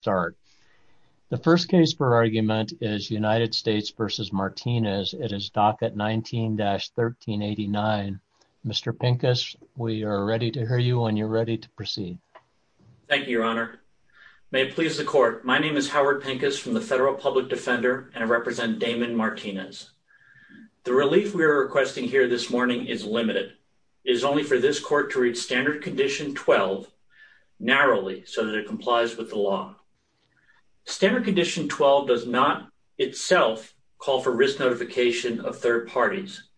start. The first case for argument is United States v. Martinez. It is docket 19-1389. Mr. Pincus, we are ready to hear you and you're ready to proceed. Thank you, your honor. May it please the court. My name is Howard Pincus from the Federal Public Defender and I represent Damon Martinez. The relief we are requesting here this morning is limited. It is only for this court to read standard condition 12 narrowly so that it standard condition 12 does not itself call for risk notification of third parties,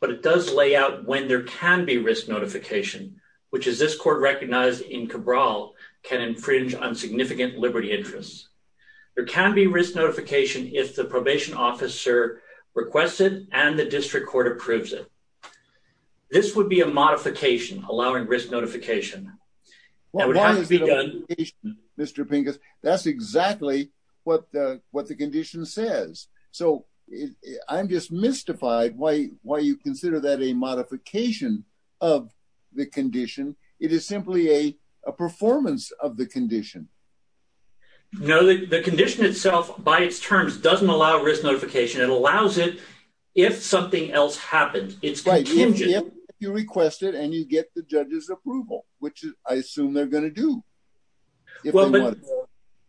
but it does lay out when there can be risk notification, which is this court recognized in Cabral can infringe on significant liberty interests. There can be risk notification if the probation officer requested and the district court approves it. This would be a modification allowing risk notification. That would have to be done. Mr. Pincus, that's exactly what the condition says. So I'm just mystified why you consider that a modification of the condition. It is simply a performance of the condition. No, the condition itself by its terms doesn't allow risk notification. It allows it if something else happens. It's right. If you request it and you get the judge's approval, which I assume they're going to do. Well,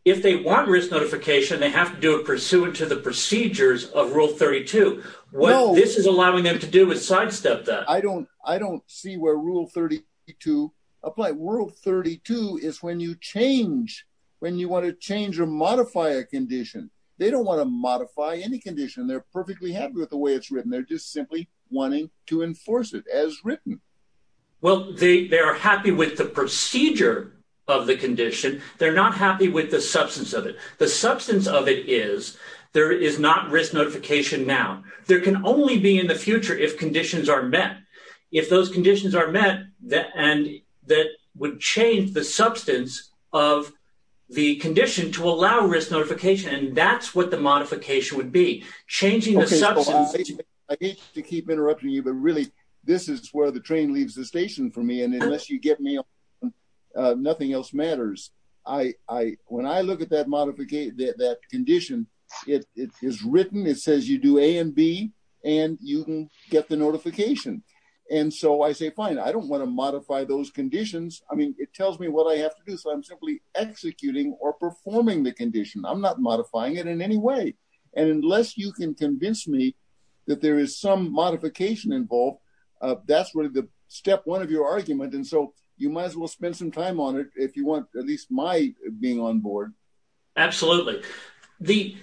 if they want risk notification, they have to do it pursuant to the procedures of rule 32. Well, this is allowing them to do with sidestep that I don't I don't see where rule 32 apply. World 32 is when you change when you want to change or modify a condition. They don't want to modify any condition. They're perfectly happy with the way it's written. They're just simply wanting to enforce it as written. Well, they are happy with the procedure of the condition. They're not happy with the substance of it. The substance of it is there is not risk notification now. There can only be in the future if conditions are met. If those conditions are met and that would change the substance of the condition to allow risk notification. And that's what the modification would be changing the substance. I hate to keep interrupting you, but really this is where the train leaves the station for me. And unless you get me, nothing else matters. I when I look at that modification, that condition, it is written. It says you do A and B and you can get the notification. And so I say, fine, I don't want to modify those conditions. I mean, it tells me what I have to do. So I'm simply executing or performing the condition. I'm not modifying it in any way. And unless you can convince me that there is some modification involved, that's really the step one of your argument. And so you might as well spend some time on it if you want at least my being on board. Absolutely. The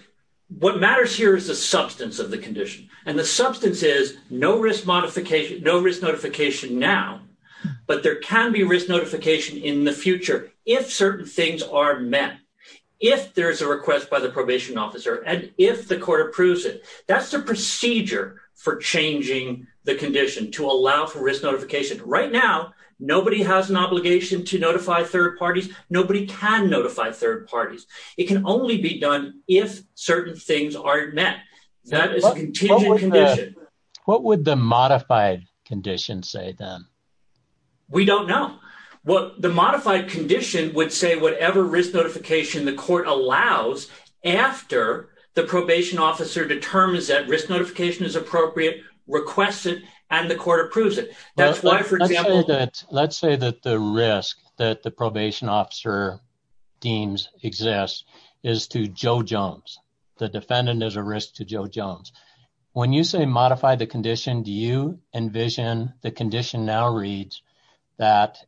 what matters here is the substance of the condition and the substance is no risk modification, no risk notification now, but there can be risk notification in the future. If certain things are met, if there's a request by the probation officer and if the court approves it, that's the procedure for changing the condition to allow for risk notification. Right now, nobody has an obligation to notify third parties. Nobody can notify third parties. It can only be done if certain things aren't met. That is a contingent condition. What would the modified condition say then? We don't know. Well, the modified condition would say whatever risk notification the court allows after the probation officer determines that risk notification is appropriate, requests it, and the court approves it. That's why, for example... Let's say that the risk that the probation officer deems exists is to Joe Jones. The defendant is a condition. Do you envision the condition now reads that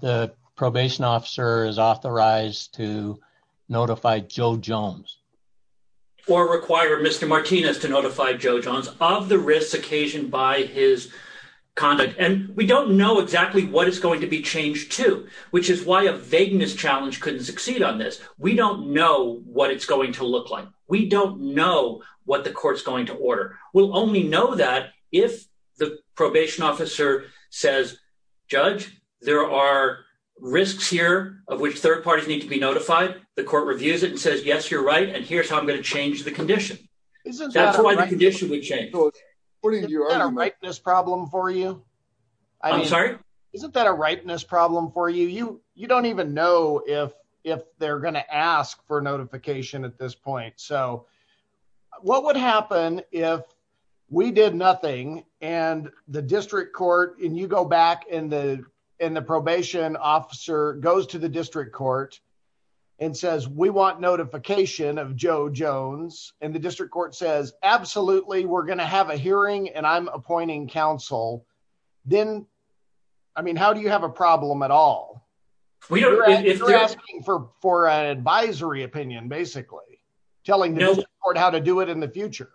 the probation officer is authorized to notify Joe Jones? Or require Mr. Martinez to notify Joe Jones of the risk occasioned by his conduct. We don't know exactly what is going to be changed to, which is why a vagueness challenge couldn't succeed on this. We don't know what it's going to look like. We don't know what the court's order is. We'll only know that if the probation officer says, judge, there are risks here of which third parties need to be notified. The court reviews it and says, yes, you're right, and here's how I'm going to change the condition. That's why the condition would change. Isn't that a ripeness problem for you? You don't even know if they're going to ask for notification at this point. So what would happen if we did nothing and the district court, and you go back and the probation officer goes to the district court and says, we want notification of Joe Jones, and the district court says, absolutely, we're going to have a hearing and I'm appointing counsel. Then, I mean, how do you have a problem at all? If they're asking for an advisory opinion, basically, telling the court how to do it in the future.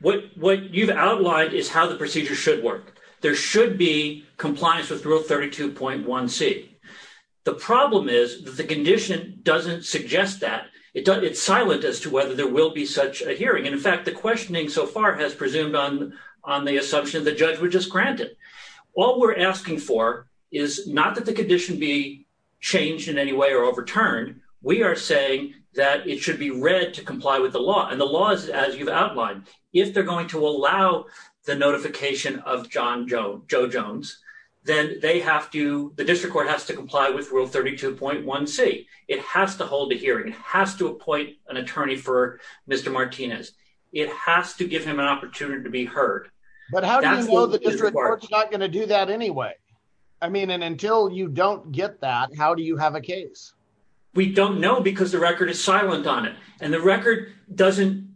What you've outlined is how the procedure should work. There should be compliance with rule 32.1c. The problem is that the condition doesn't suggest that. It's silent as to whether there will be such a hearing. In fact, the questioning so far has presumed on the assumption the judge would just grant it. All we're asking for is not that the condition be changed in any way or overturned. We are saying that it should be read to comply with the law and the laws as you've outlined. If they're going to allow the notification of Joe Jones, then the district court has to comply with rule 32.1c. It has to hold a hearing. It has to appoint an attorney for Mr. Martinez. It has to give him an opportunity to be heard. But how do you know the district court's not going to do that anyway? I mean, and until you don't get that, how do you have a case? We don't know because the record is silent on it. And the record doesn't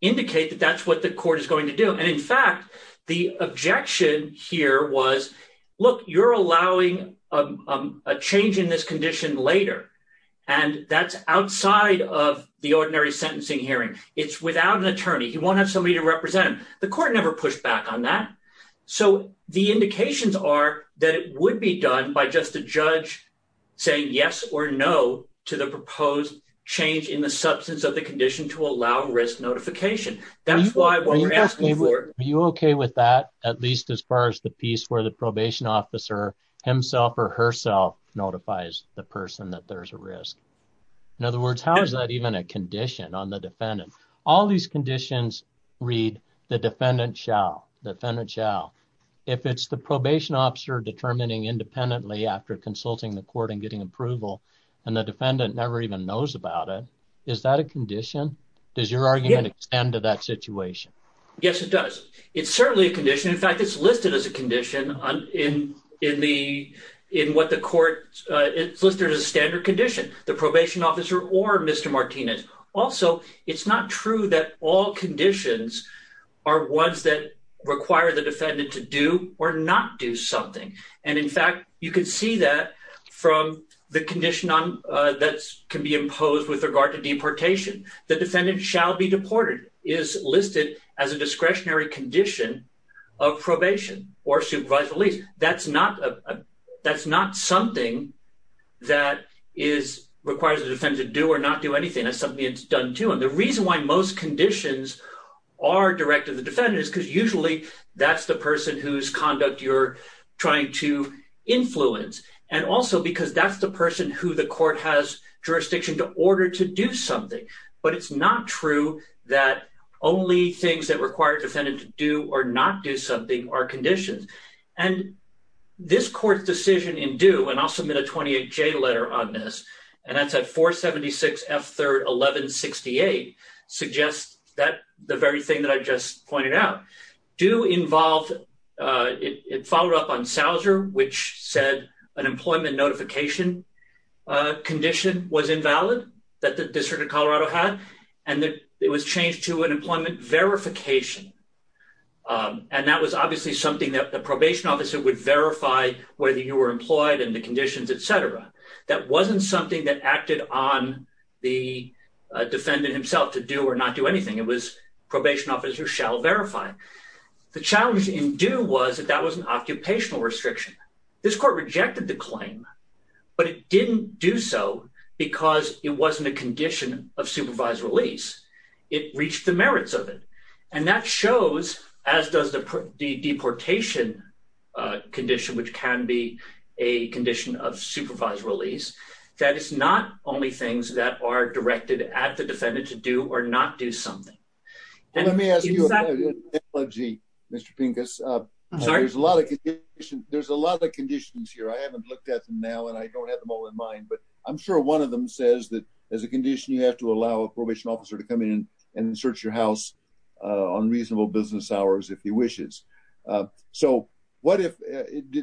indicate that that's what the court is going to do. And in fact, the objection here was, look, you're allowing a change in this condition later. And that's outside of the ordinary sentencing hearing. It's without an attorney. He won't have somebody to represent him. The court never pushed back on that. So the indications are that it would be done by just a judge saying yes or no to the proposed change in the substance of the condition to allow risk notification. That's why what we're asking for... Are you okay with that, at least as far as the piece where the probation officer himself or herself notifies the person that there's a risk? In other words, how is that even a condition on the defendant? All these conditions read, the defendant shall, the defendant shall. If it's the probation officer determining independently after consulting the court and getting approval, and the defendant never even knows about it, is that a condition? Does your argument extend to that situation? Yes, it does. It's certainly a condition. In fact, it's listed as a condition in what the court... It's listed as a standard condition. The probation officer or Mr. Martinez. Also, it's not true that all conditions are ones that require the defendant to do or not do something. And in fact, you can see that from the condition that can be imposed with regard to deportation. The defendant shall be deported is listed as a discretionary condition of probation or supervised release. That's not something that requires the defendant to do or not do anything. That's something that's done to him. The reason why most conditions are directed to the defendant is because usually that's the person whose conduct you're trying to influence. And also because that's the person who the court has jurisdiction to order to do something. But it's not true that only things that require defendant to do or not do something are conditions. And this court's decision in due, and I'll submit a 28-J letter on this, and that's at 476 F 3rd 1168, suggests that the very thing that I just pointed out. Due involved... It followed up on Souser, which said an employment notification condition was invalid that the District of Colorado had. And that it was changed to an employment verification and that was obviously something that the probation officer would verify whether you were employed and the conditions, etc. That wasn't something that acted on the defendant himself to do or not do anything. It was probation officer shall verify. The challenge in due was that that was an occupational restriction. This court rejected the claim, but it didn't do so because it wasn't a condition of supervised release. It reached the merits of it. And that shows, as does the deportation condition, which can be a condition of supervised release, that it's not only things that are directed at the defendant to do or not do something. Let me ask you an analogy, Mr. Pincus. There's a lot of conditions here. I haven't looked at them now and I don't have them all in mind, but I'm sure one of them says that as a condition, you have to allow a probation officer to come in and search your house on reasonable business hours if he wishes. So what if...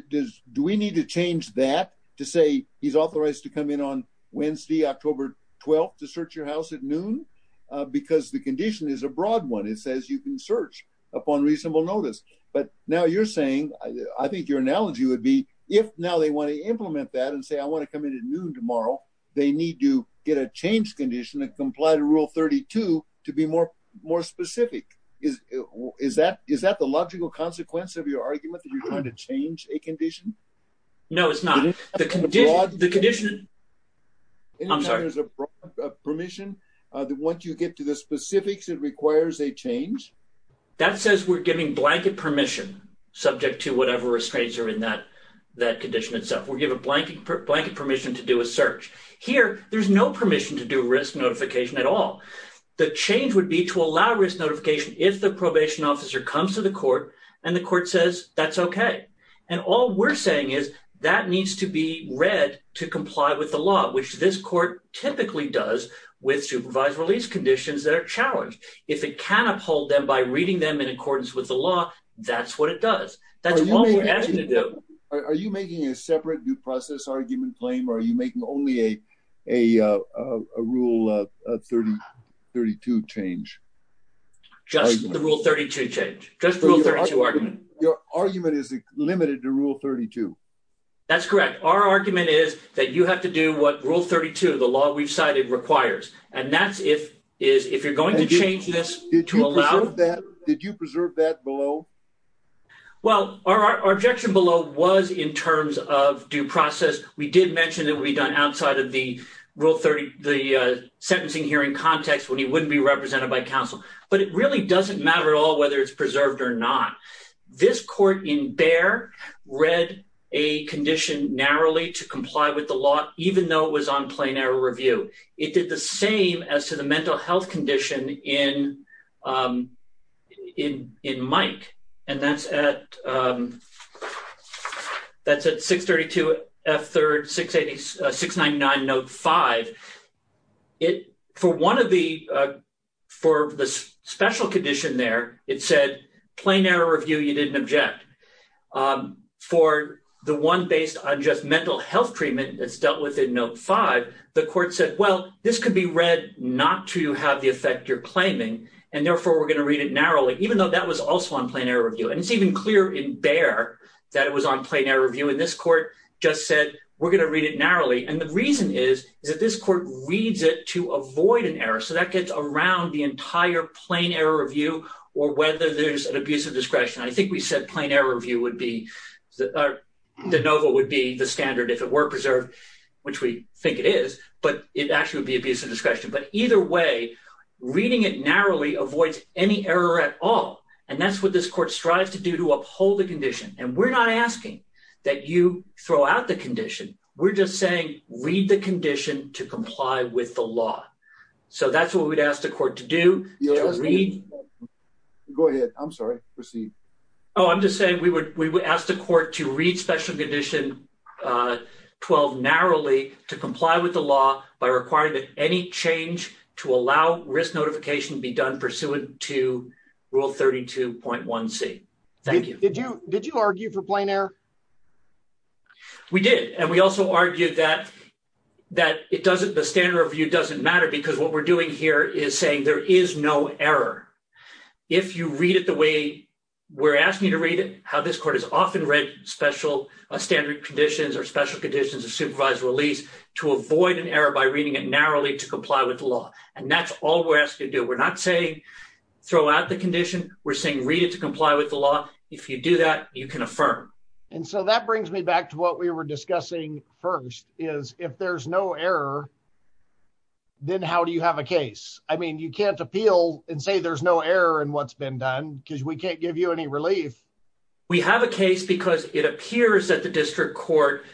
Do we need to change that to say he's authorized to come in on Wednesday, October 12th to search your house at noon? Because the condition is a broad one. It says you can search upon reasonable notice. But now you're saying, I think your analogy would be if now they want to implement that and say, I want to come in at noon tomorrow, they need to get a change condition and comply to rule 32 to be more specific. Is that the logical consequence of your argument that you're trying to change a condition? No, it's not. The condition... I'm sorry. There's a broad permission that once you get to the specifics, it requires a change? That says we're giving blanket permission subject to whatever restraints are in that condition itself. We'll give a blanket permission to do a search. Here, there's no permission to do risk notification at all. The change would be to allow risk notification if the probation officer comes to the court and the court says that's okay. And all we're saying is that needs to be read to comply with the law, which this court typically does with supervised release conditions that are challenged. If it can uphold them by reading them in accordance with the law, that's what it does. That's what we're asking to do. Are you making a separate due process argument claim or are you making only a rule 32 change? Just the rule 32 change. Just the rule 32 argument. Your argument is limited to rule 32. That's correct. Our argument is that you have to do what rule 32, the law we've cited, requires. And that's if you're going to change this to allow... Did you preserve that below? Well, our objection below was in terms of due process. We did mention it would be done outside of the rule 30, the sentencing hearing context when he wouldn't be represented by counsel. But it really doesn't matter at all whether it's preserved or not. This court in Bayer read a condition narrowly to comply with the law, even though it was on plain error review. It did the same as to the mental health condition in Mike. And that's at 632 F3rd 699 Note 5. For the special condition there, it said plain error review, you didn't object. For the one based on just mental health treatment that's dealt with in Note 5, the court said, well, this could be read not to have the effect you're claiming. And therefore, we're going to read it narrowly, even though that was also on plain error review. And it's even clear in Bayer that it was on plain error review. And this court just said, we're going to read it narrowly. And the reason is, is that this court reads it to avoid an error. So that gets around the entire plain error review, or whether there's an abuse of discretion. I think we said plain error review would be the NOVA would be the standard if it were preserved, which we think it is, but it actually would be abuse of discretion. But either way, reading it narrowly avoids any error at all. And that's what this court strives to do to uphold the condition. And we're not asking that you throw out the condition. We're just saying, read the condition to comply with the law. So that's what we'd ask the court to do. Go ahead. I'm sorry. Proceed. Oh, I'm just saying we would we would ask the court to read special condition 12 narrowly to comply with the law by requiring that any change to allow risk notification be done pursuant to rule 32.1c. Thank you. Did you did you argue for plain error? We did. And we also argued that that it doesn't the standard review doesn't matter because what we're doing here is saying there is no error. If you read it the way we're asking you to read it, how this court is often read special standard conditions or special conditions of supervised release to avoid an error by reading it narrowly to comply with the law. And that's all we're asking you to do. We're not saying throw out the condition. We're saying read it to comply with the law. If you do that, you can affirm. And so that brings me back to what we were discussing first is if there's no error. Then how do you have a case? I mean, you can't appeal and say there's no error in what's been done because we can't give you any relief. We have a case because it appears that the district court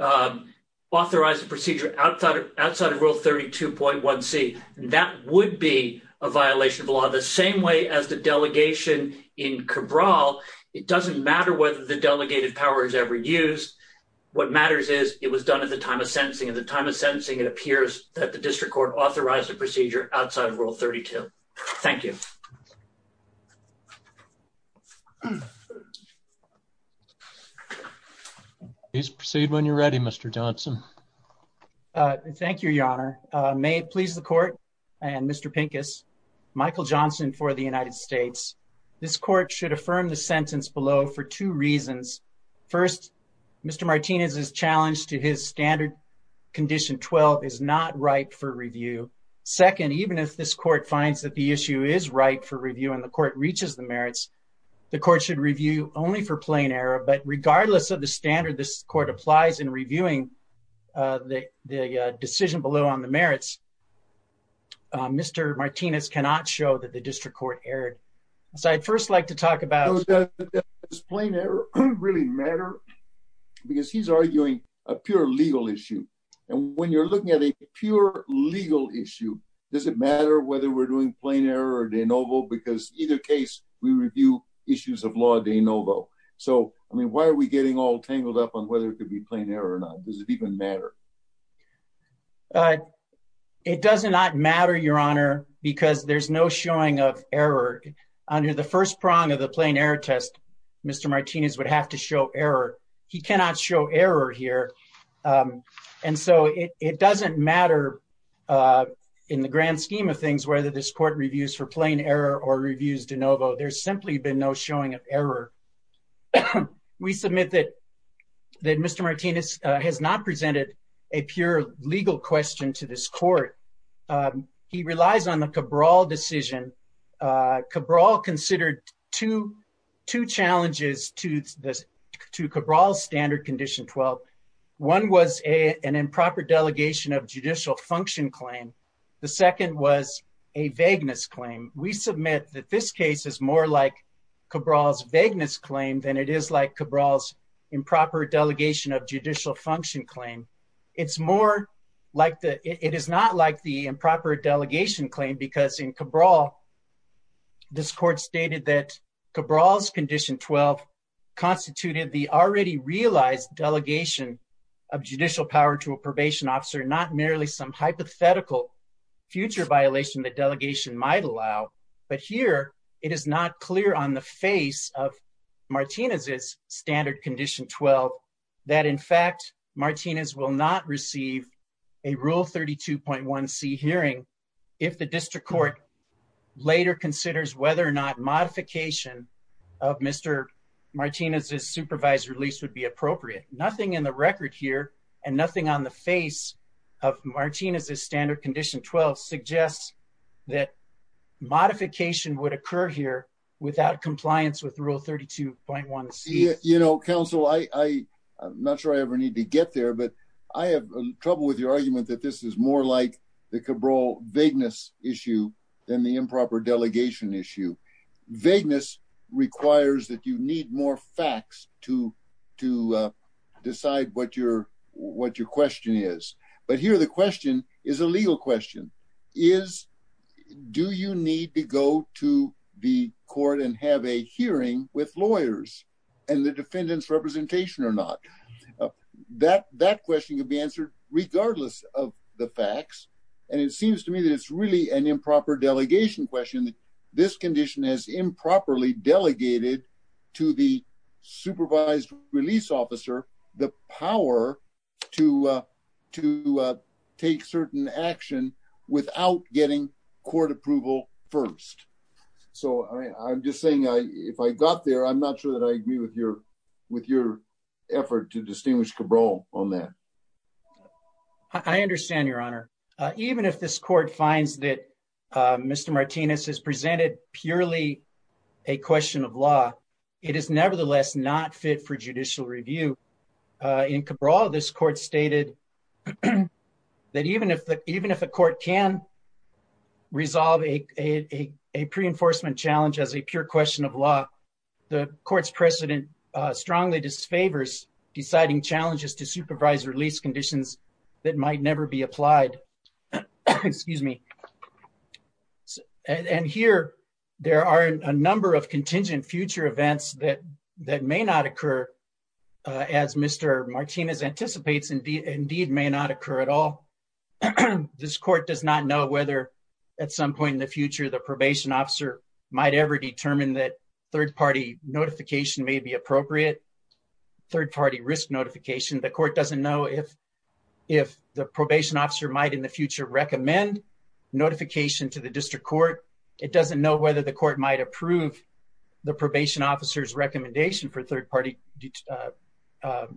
authorized the procedure outside of outside of rule 32.1c. That would be a violation of the same way as the delegation in Cabral. It doesn't matter whether the delegated power is ever used. What matters is it was done at the time of sentencing. At the time of sentencing, it appears that the district court authorized the procedure outside of rule 32. Thank you. Please proceed when you're ready, Mr. Johnson. Thank you, Your Honor. May it please the court and Mr. Pincus, Michael Johnson for the United States. This court should affirm the sentence below for two reasons. First, Mr. Martinez's challenge to his standard condition 12 is not ripe for review. Second, even if this court finds that the issue is ripe for review and the court reaches the merits, the court should review only for plain error. But regardless of the standard this court applies in reviewing the decision below on the merits, Mr. Martinez cannot show that the district court erred. So I'd first like to talk about- Does plain error really matter? Because he's arguing a pure legal issue. And when you're looking at a pure legal issue, does it matter whether we're doing plain error or de novo? Because either case, we review issues of law de novo. So I mean, why are we getting all tangled up on whether it could be plain error or not? Does it even matter? It does not matter, Your Honor, because there's no showing of error. Under the first prong of the plain error test, Mr. Martinez would have to show error. He cannot show error here. And so it doesn't matter in the grand scheme of things, whether this court reviews for plain error or reviews de novo. There's simply been no showing of error. We submit that Mr. Martinez has not presented a pure legal question to this court. He relies on the Cabral decision. Cabral considered two challenges to Cabral's standard condition 12. One was an improper delegation of judicial function claim. The second was a vagueness claim. We submit that this case is more like Cabral's vagueness claim than it is like Cabral's improper delegation of judicial function claim. It is not like the improper delegation claim because in Cabral, this court stated that Cabral's condition 12 constituted the already realized delegation of judicial power to a probation officer, not merely some hypothetical future violation the delegation might allow. But here, it is not clear on the face of Martinez's standard condition 12 that in fact, Martinez will not receive a Rule 32.1C hearing if the district court later considers whether or not modification of Mr. Martinez's supervised release would be and nothing on the face of Martinez's standard condition 12 suggests that modification would occur here without compliance with Rule 32.1C. You know, counsel, I'm not sure I ever need to get there, but I have trouble with your argument that this is more like the Cabral vagueness issue than the improper delegation issue. Vagueness requires that you need more facts to decide what your question is. But here, the question is a legal question. Do you need to go to the court and have a hearing with lawyers and the defendant's representation or not? That question could be questioned. This condition has improperly delegated to the supervised release officer the power to take certain action without getting court approval first. So, I'm just saying if I got there, I'm not sure that I agree with your effort to distinguish Cabral on that. I understand, Your Honor. Even if this court finds that Mr. Martinez has presented purely a question of law, it is nevertheless not fit for judicial review. In Cabral, this court stated that even if a court can resolve a pre-enforcement challenge as a pure question of law, the court's precedent strongly disfavors deciding challenges to supervised release conditions that might never be applied. And here, there are a number of contingent future events that may not occur as Mr. Martinez anticipates, indeed may not occur at all. This court does not know at some point in the future the probation officer might ever determine that third-party notification may be appropriate, third-party risk notification. The court doesn't know if the probation officer might in the future recommend notification to the district court. It doesn't know whether the court might approve the probation officer's recommendation for third-party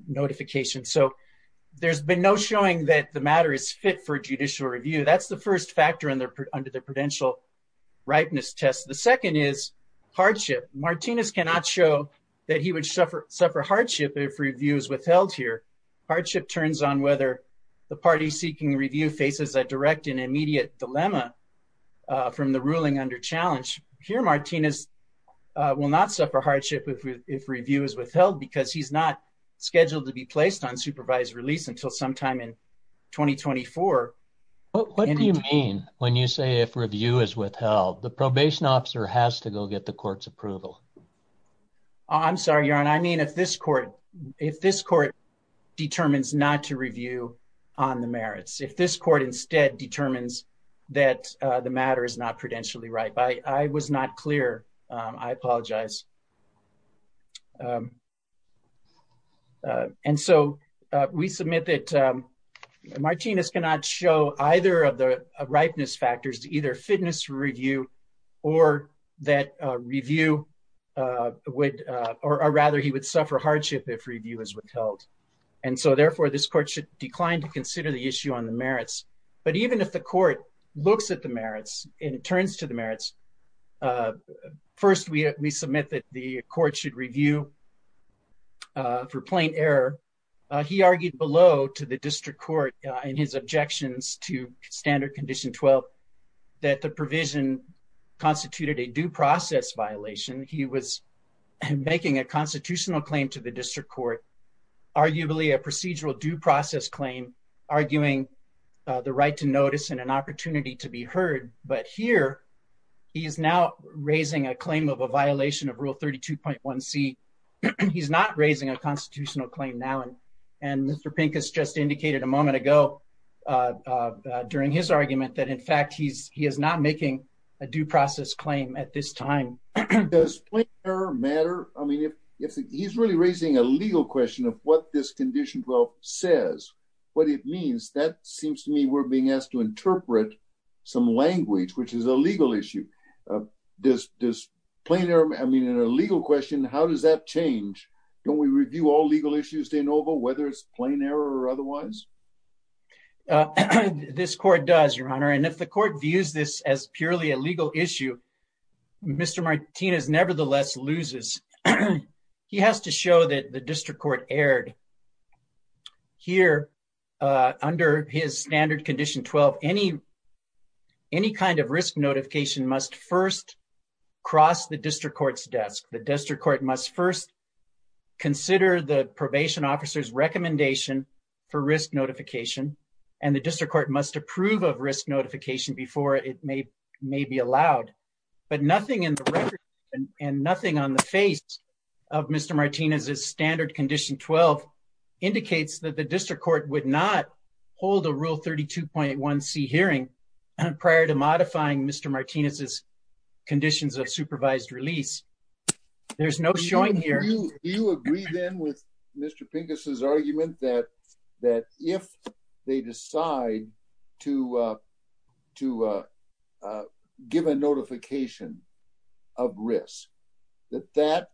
notification. So, there's been no showing that the matter is fit for judicial review. That's the factor under the prudential ripeness test. The second is hardship. Martinez cannot show that he would suffer hardship if review is withheld here. Hardship turns on whether the party seeking review faces a direct and immediate dilemma from the ruling under challenge. Here, Martinez will not suffer hardship if review is withheld because he's not saying that review is withheld. The probation officer has to go get the court's approval. I'm sorry, Your Honor. I mean, if this court determines not to review on the merits, if this court instead determines that the matter is not prudentially ripe, I was not clear. I either fitness review or that review would or rather he would suffer hardship if review is withheld. And so, therefore, this court should decline to consider the issue on the merits. But even if the court looks at the merits and it turns to the merits, first, we submit that the court should review for plain error. He argued below to the district court in his objections to standard condition 12 that the provision constituted a due process violation. He was making a constitutional claim to the district court, arguably a procedural due process claim, arguing the right to notice and an opportunity to be heard. But here, he is now raising a claim of a violation of Rule 32.1C. He's not raising a constitutional claim now. And Mr. Pincus just indicated a moment ago during his argument that, in fact, he is not making a due process claim at this time. Does plain error matter? I mean, if he's really raising a legal question of what this condition 12 says, what it means, that seems to me we're being asked to interpret some language, which is a legal issue. Does plain error, I mean, a legal question, how does that change? Don't we review all legal issues de novo, whether it's plain error or otherwise? This court does, Your Honor. And if the court views this as purely a legal issue, Mr. Martinez nevertheless loses. He has to show that the district court erred. Here, under his standard condition 12, any kind of risk notification must first cross the district court's desk. The district court must first consider the probation officer's recommendation for risk notification, and the district court must approve of risk notification before it may be allowed. But nothing in the record and nothing on the face of Mr. Martinez's standard condition 12 indicates that the district court would not hold a Rule 32.1C hearing prior to a supervised release. There's no showing here. Do you agree then with Mr. Pincus' argument that if they decide to give a notification of risk, that that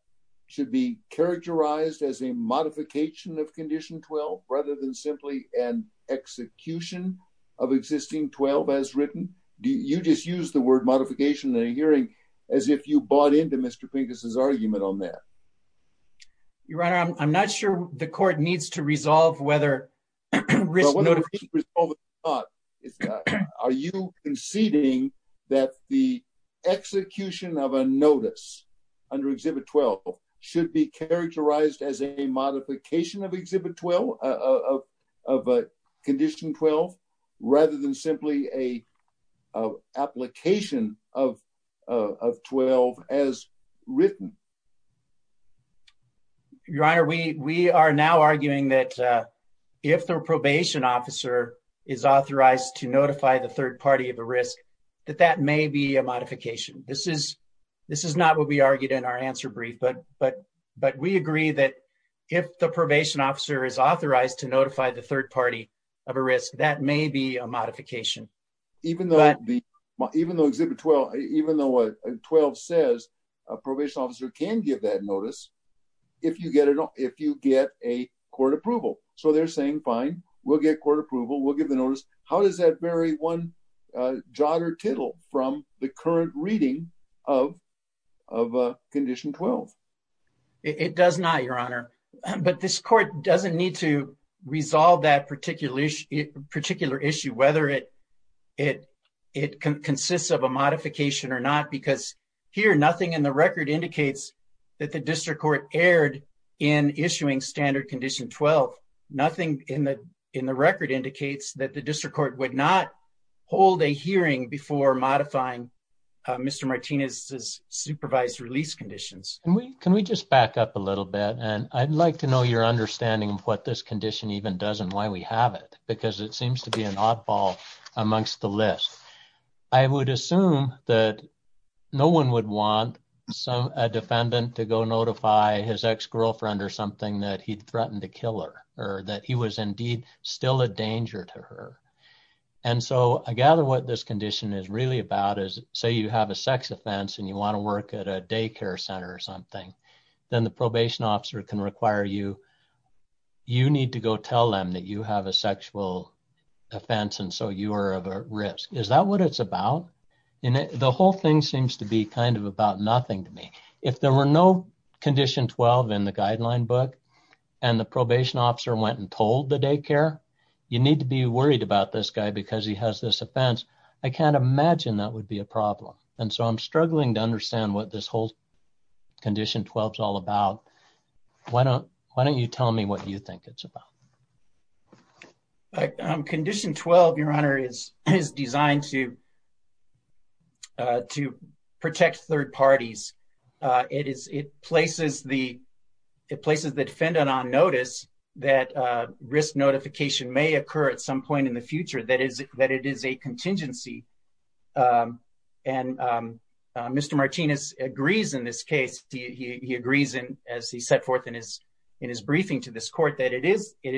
should be characterized as a modification of condition 12 rather than simply an execution of existing 12 as written? You just used the hearing as if you bought into Mr. Pincus' argument on that. Your Honor, I'm not sure the court needs to resolve whether risk notification... Are you conceding that the execution of a notice under Exhibit 12 should be characterized as a modification of Exhibit 12, of condition 12, rather than simply an application of 12 as written? Your Honor, we are now arguing that if the probation officer is authorized to notify the third party of a risk, that that may be a modification. This is not what we argued in answer brief, but we agree that if the probation officer is authorized to notify the third party of a risk, that may be a modification. Even though Exhibit 12 says a probation officer can give that notice if you get a court approval. So they're saying, fine, we'll get court approval, we'll give the notice. How does that vary one jot or tittle from the current reading of condition 12? It does not, Your Honor. But this court doesn't need to resolve that particular issue, whether it consists of a modification or not. Because here, nothing in the record indicates that the district court erred in issuing standard condition 12. Nothing in the record indicates that the district court would not hold a hearing before modifying Mr. Martinez's supervised release conditions. Can we just back up a little bit? And I'd like to know your understanding of what this condition even does and why we have it, because it seems to be an oddball amongst the list. I would assume that no one would want a defendant to go notify his ex-girlfriend or something that he'd threatened to kill her, or that he was indeed still a danger to her. And so I gather what this condition is really about is, say you have a sex offense and you want to work at a daycare center or something, then the probation officer can require you, you need to go tell them that you are at risk. Is that what it's about? The whole thing seems to be kind of about nothing to me. If there were no condition 12 in the guideline book and the probation officer went and told the daycare, you need to be worried about this guy because he has this offense. I can't imagine that would be a problem. And so I'm struggling to understand what this whole condition 12 is all about. Why don't you tell me what you think it's about? Condition 12, Your Honor, is designed to protect third parties. It places the defendant on notice that risk notification may occur at some point in the future, that it is a contingency. And Mr. Martinez agrees in this case, he agrees in as he set forth in his briefing to this court that it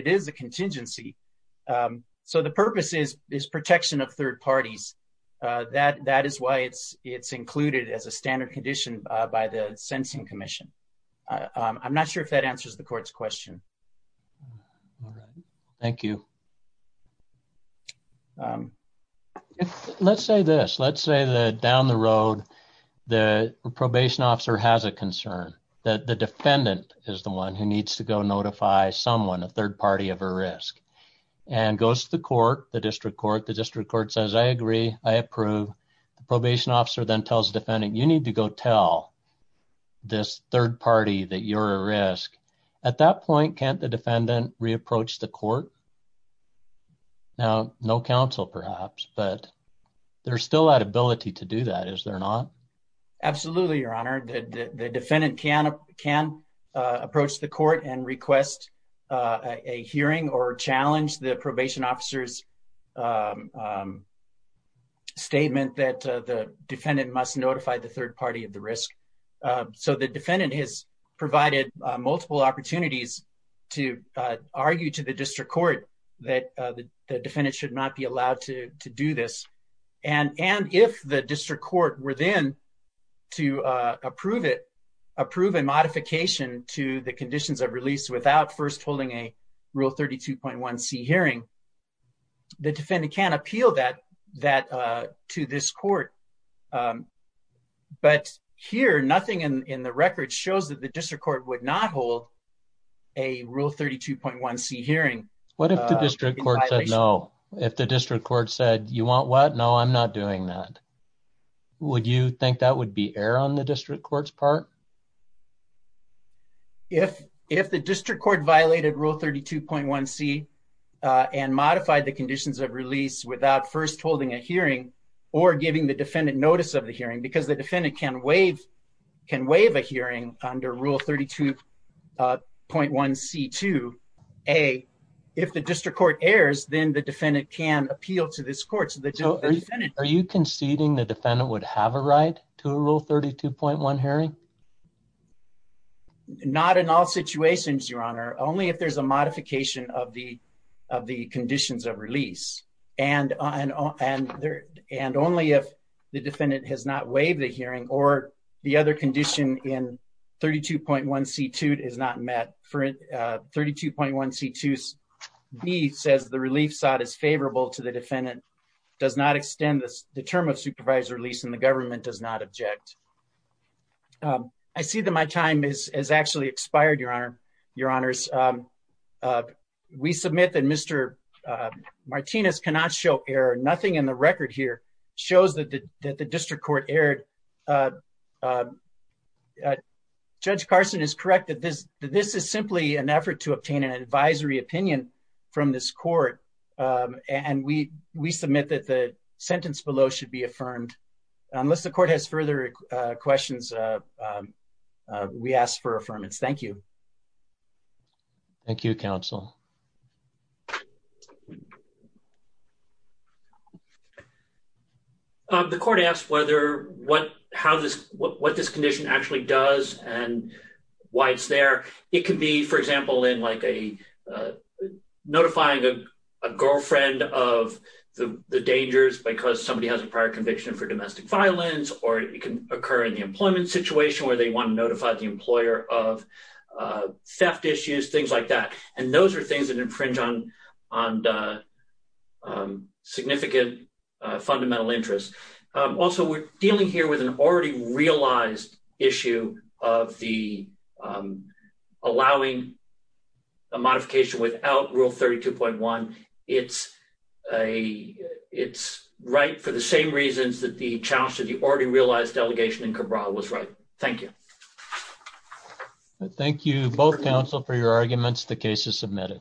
is a contingency. So the purpose is protection of third parties. That is why it's included as a standard condition by the Sensing Commission. I'm not sure if that answers the question. Let's say this. Let's say that down the road, the probation officer has a concern that the defendant is the one who needs to go notify someone, a third party of a risk, and goes to the court, the district court. The district court says, I agree, I approve. The probation officer then tells the defendant, you need to go tell this third party that you're a risk. At that point, can't the defendant re-approach the court? Now, no counsel, perhaps, but there's still that ability to do that, is there not? Absolutely, Your Honor. The defendant can approach the court and request a hearing or challenge the probation officer's statement that the defendant must notify the third party of the that the defendant should not be allowed to do this. And if the district court were then to approve it, approve a modification to the conditions of release without first holding a Rule 32.1c hearing, the defendant can appeal that to this court. But here, nothing in the record shows that the district court would not hold a Rule 32.1c hearing. What if the district court said no? If the district court said, you want what? No, I'm not doing that. Would you think that would be error on the district court's part? If the district court violated Rule 32.1c and modified the conditions of release without first holding a hearing or giving the defendant notice of the hearing, because the defendant can under Rule 32.1c2a, if the district court errs, then the defendant can appeal to this court. Are you conceding the defendant would have a right to a Rule 32.1 hearing? Not in all situations, Your Honor. Only if there's a modification of the conditions of release. And only if the defendant has not waived the hearing or the other condition in Rule 32.1c2a is not met. Rule 32.1c2b says the relief sought is favorable to the defendant, does not extend the term of supervised release, and the government does not object. I see that my time has actually expired, Your Honor. We submit that Mr. Martinez cannot show error. Nothing in the record here shows that the district court erred. Judge Carson is correct that this is simply an effort to obtain an advisory opinion from this court. And we submit that the sentence below should be affirmed. Unless the court has further questions, we ask for affirmance. Thank you. Thank you, counsel. The court asked what this condition actually does and why it's there. It could be, for example, in like a notifying a girlfriend of the dangers because somebody has a prior conviction for domestic violence, or it can occur in the employment situation where they want to notify the employer of theft issues, things like that. And those are things that infringe on the significant fundamental interests. Also, we're dealing here with an already realized issue of the allowing a modification without Rule 32.1. It's right for the same reasons that the challenge to the already realized delegation in Cabral was right. Thank you. Thank you, both counsel, for your arguments. The case is submitted.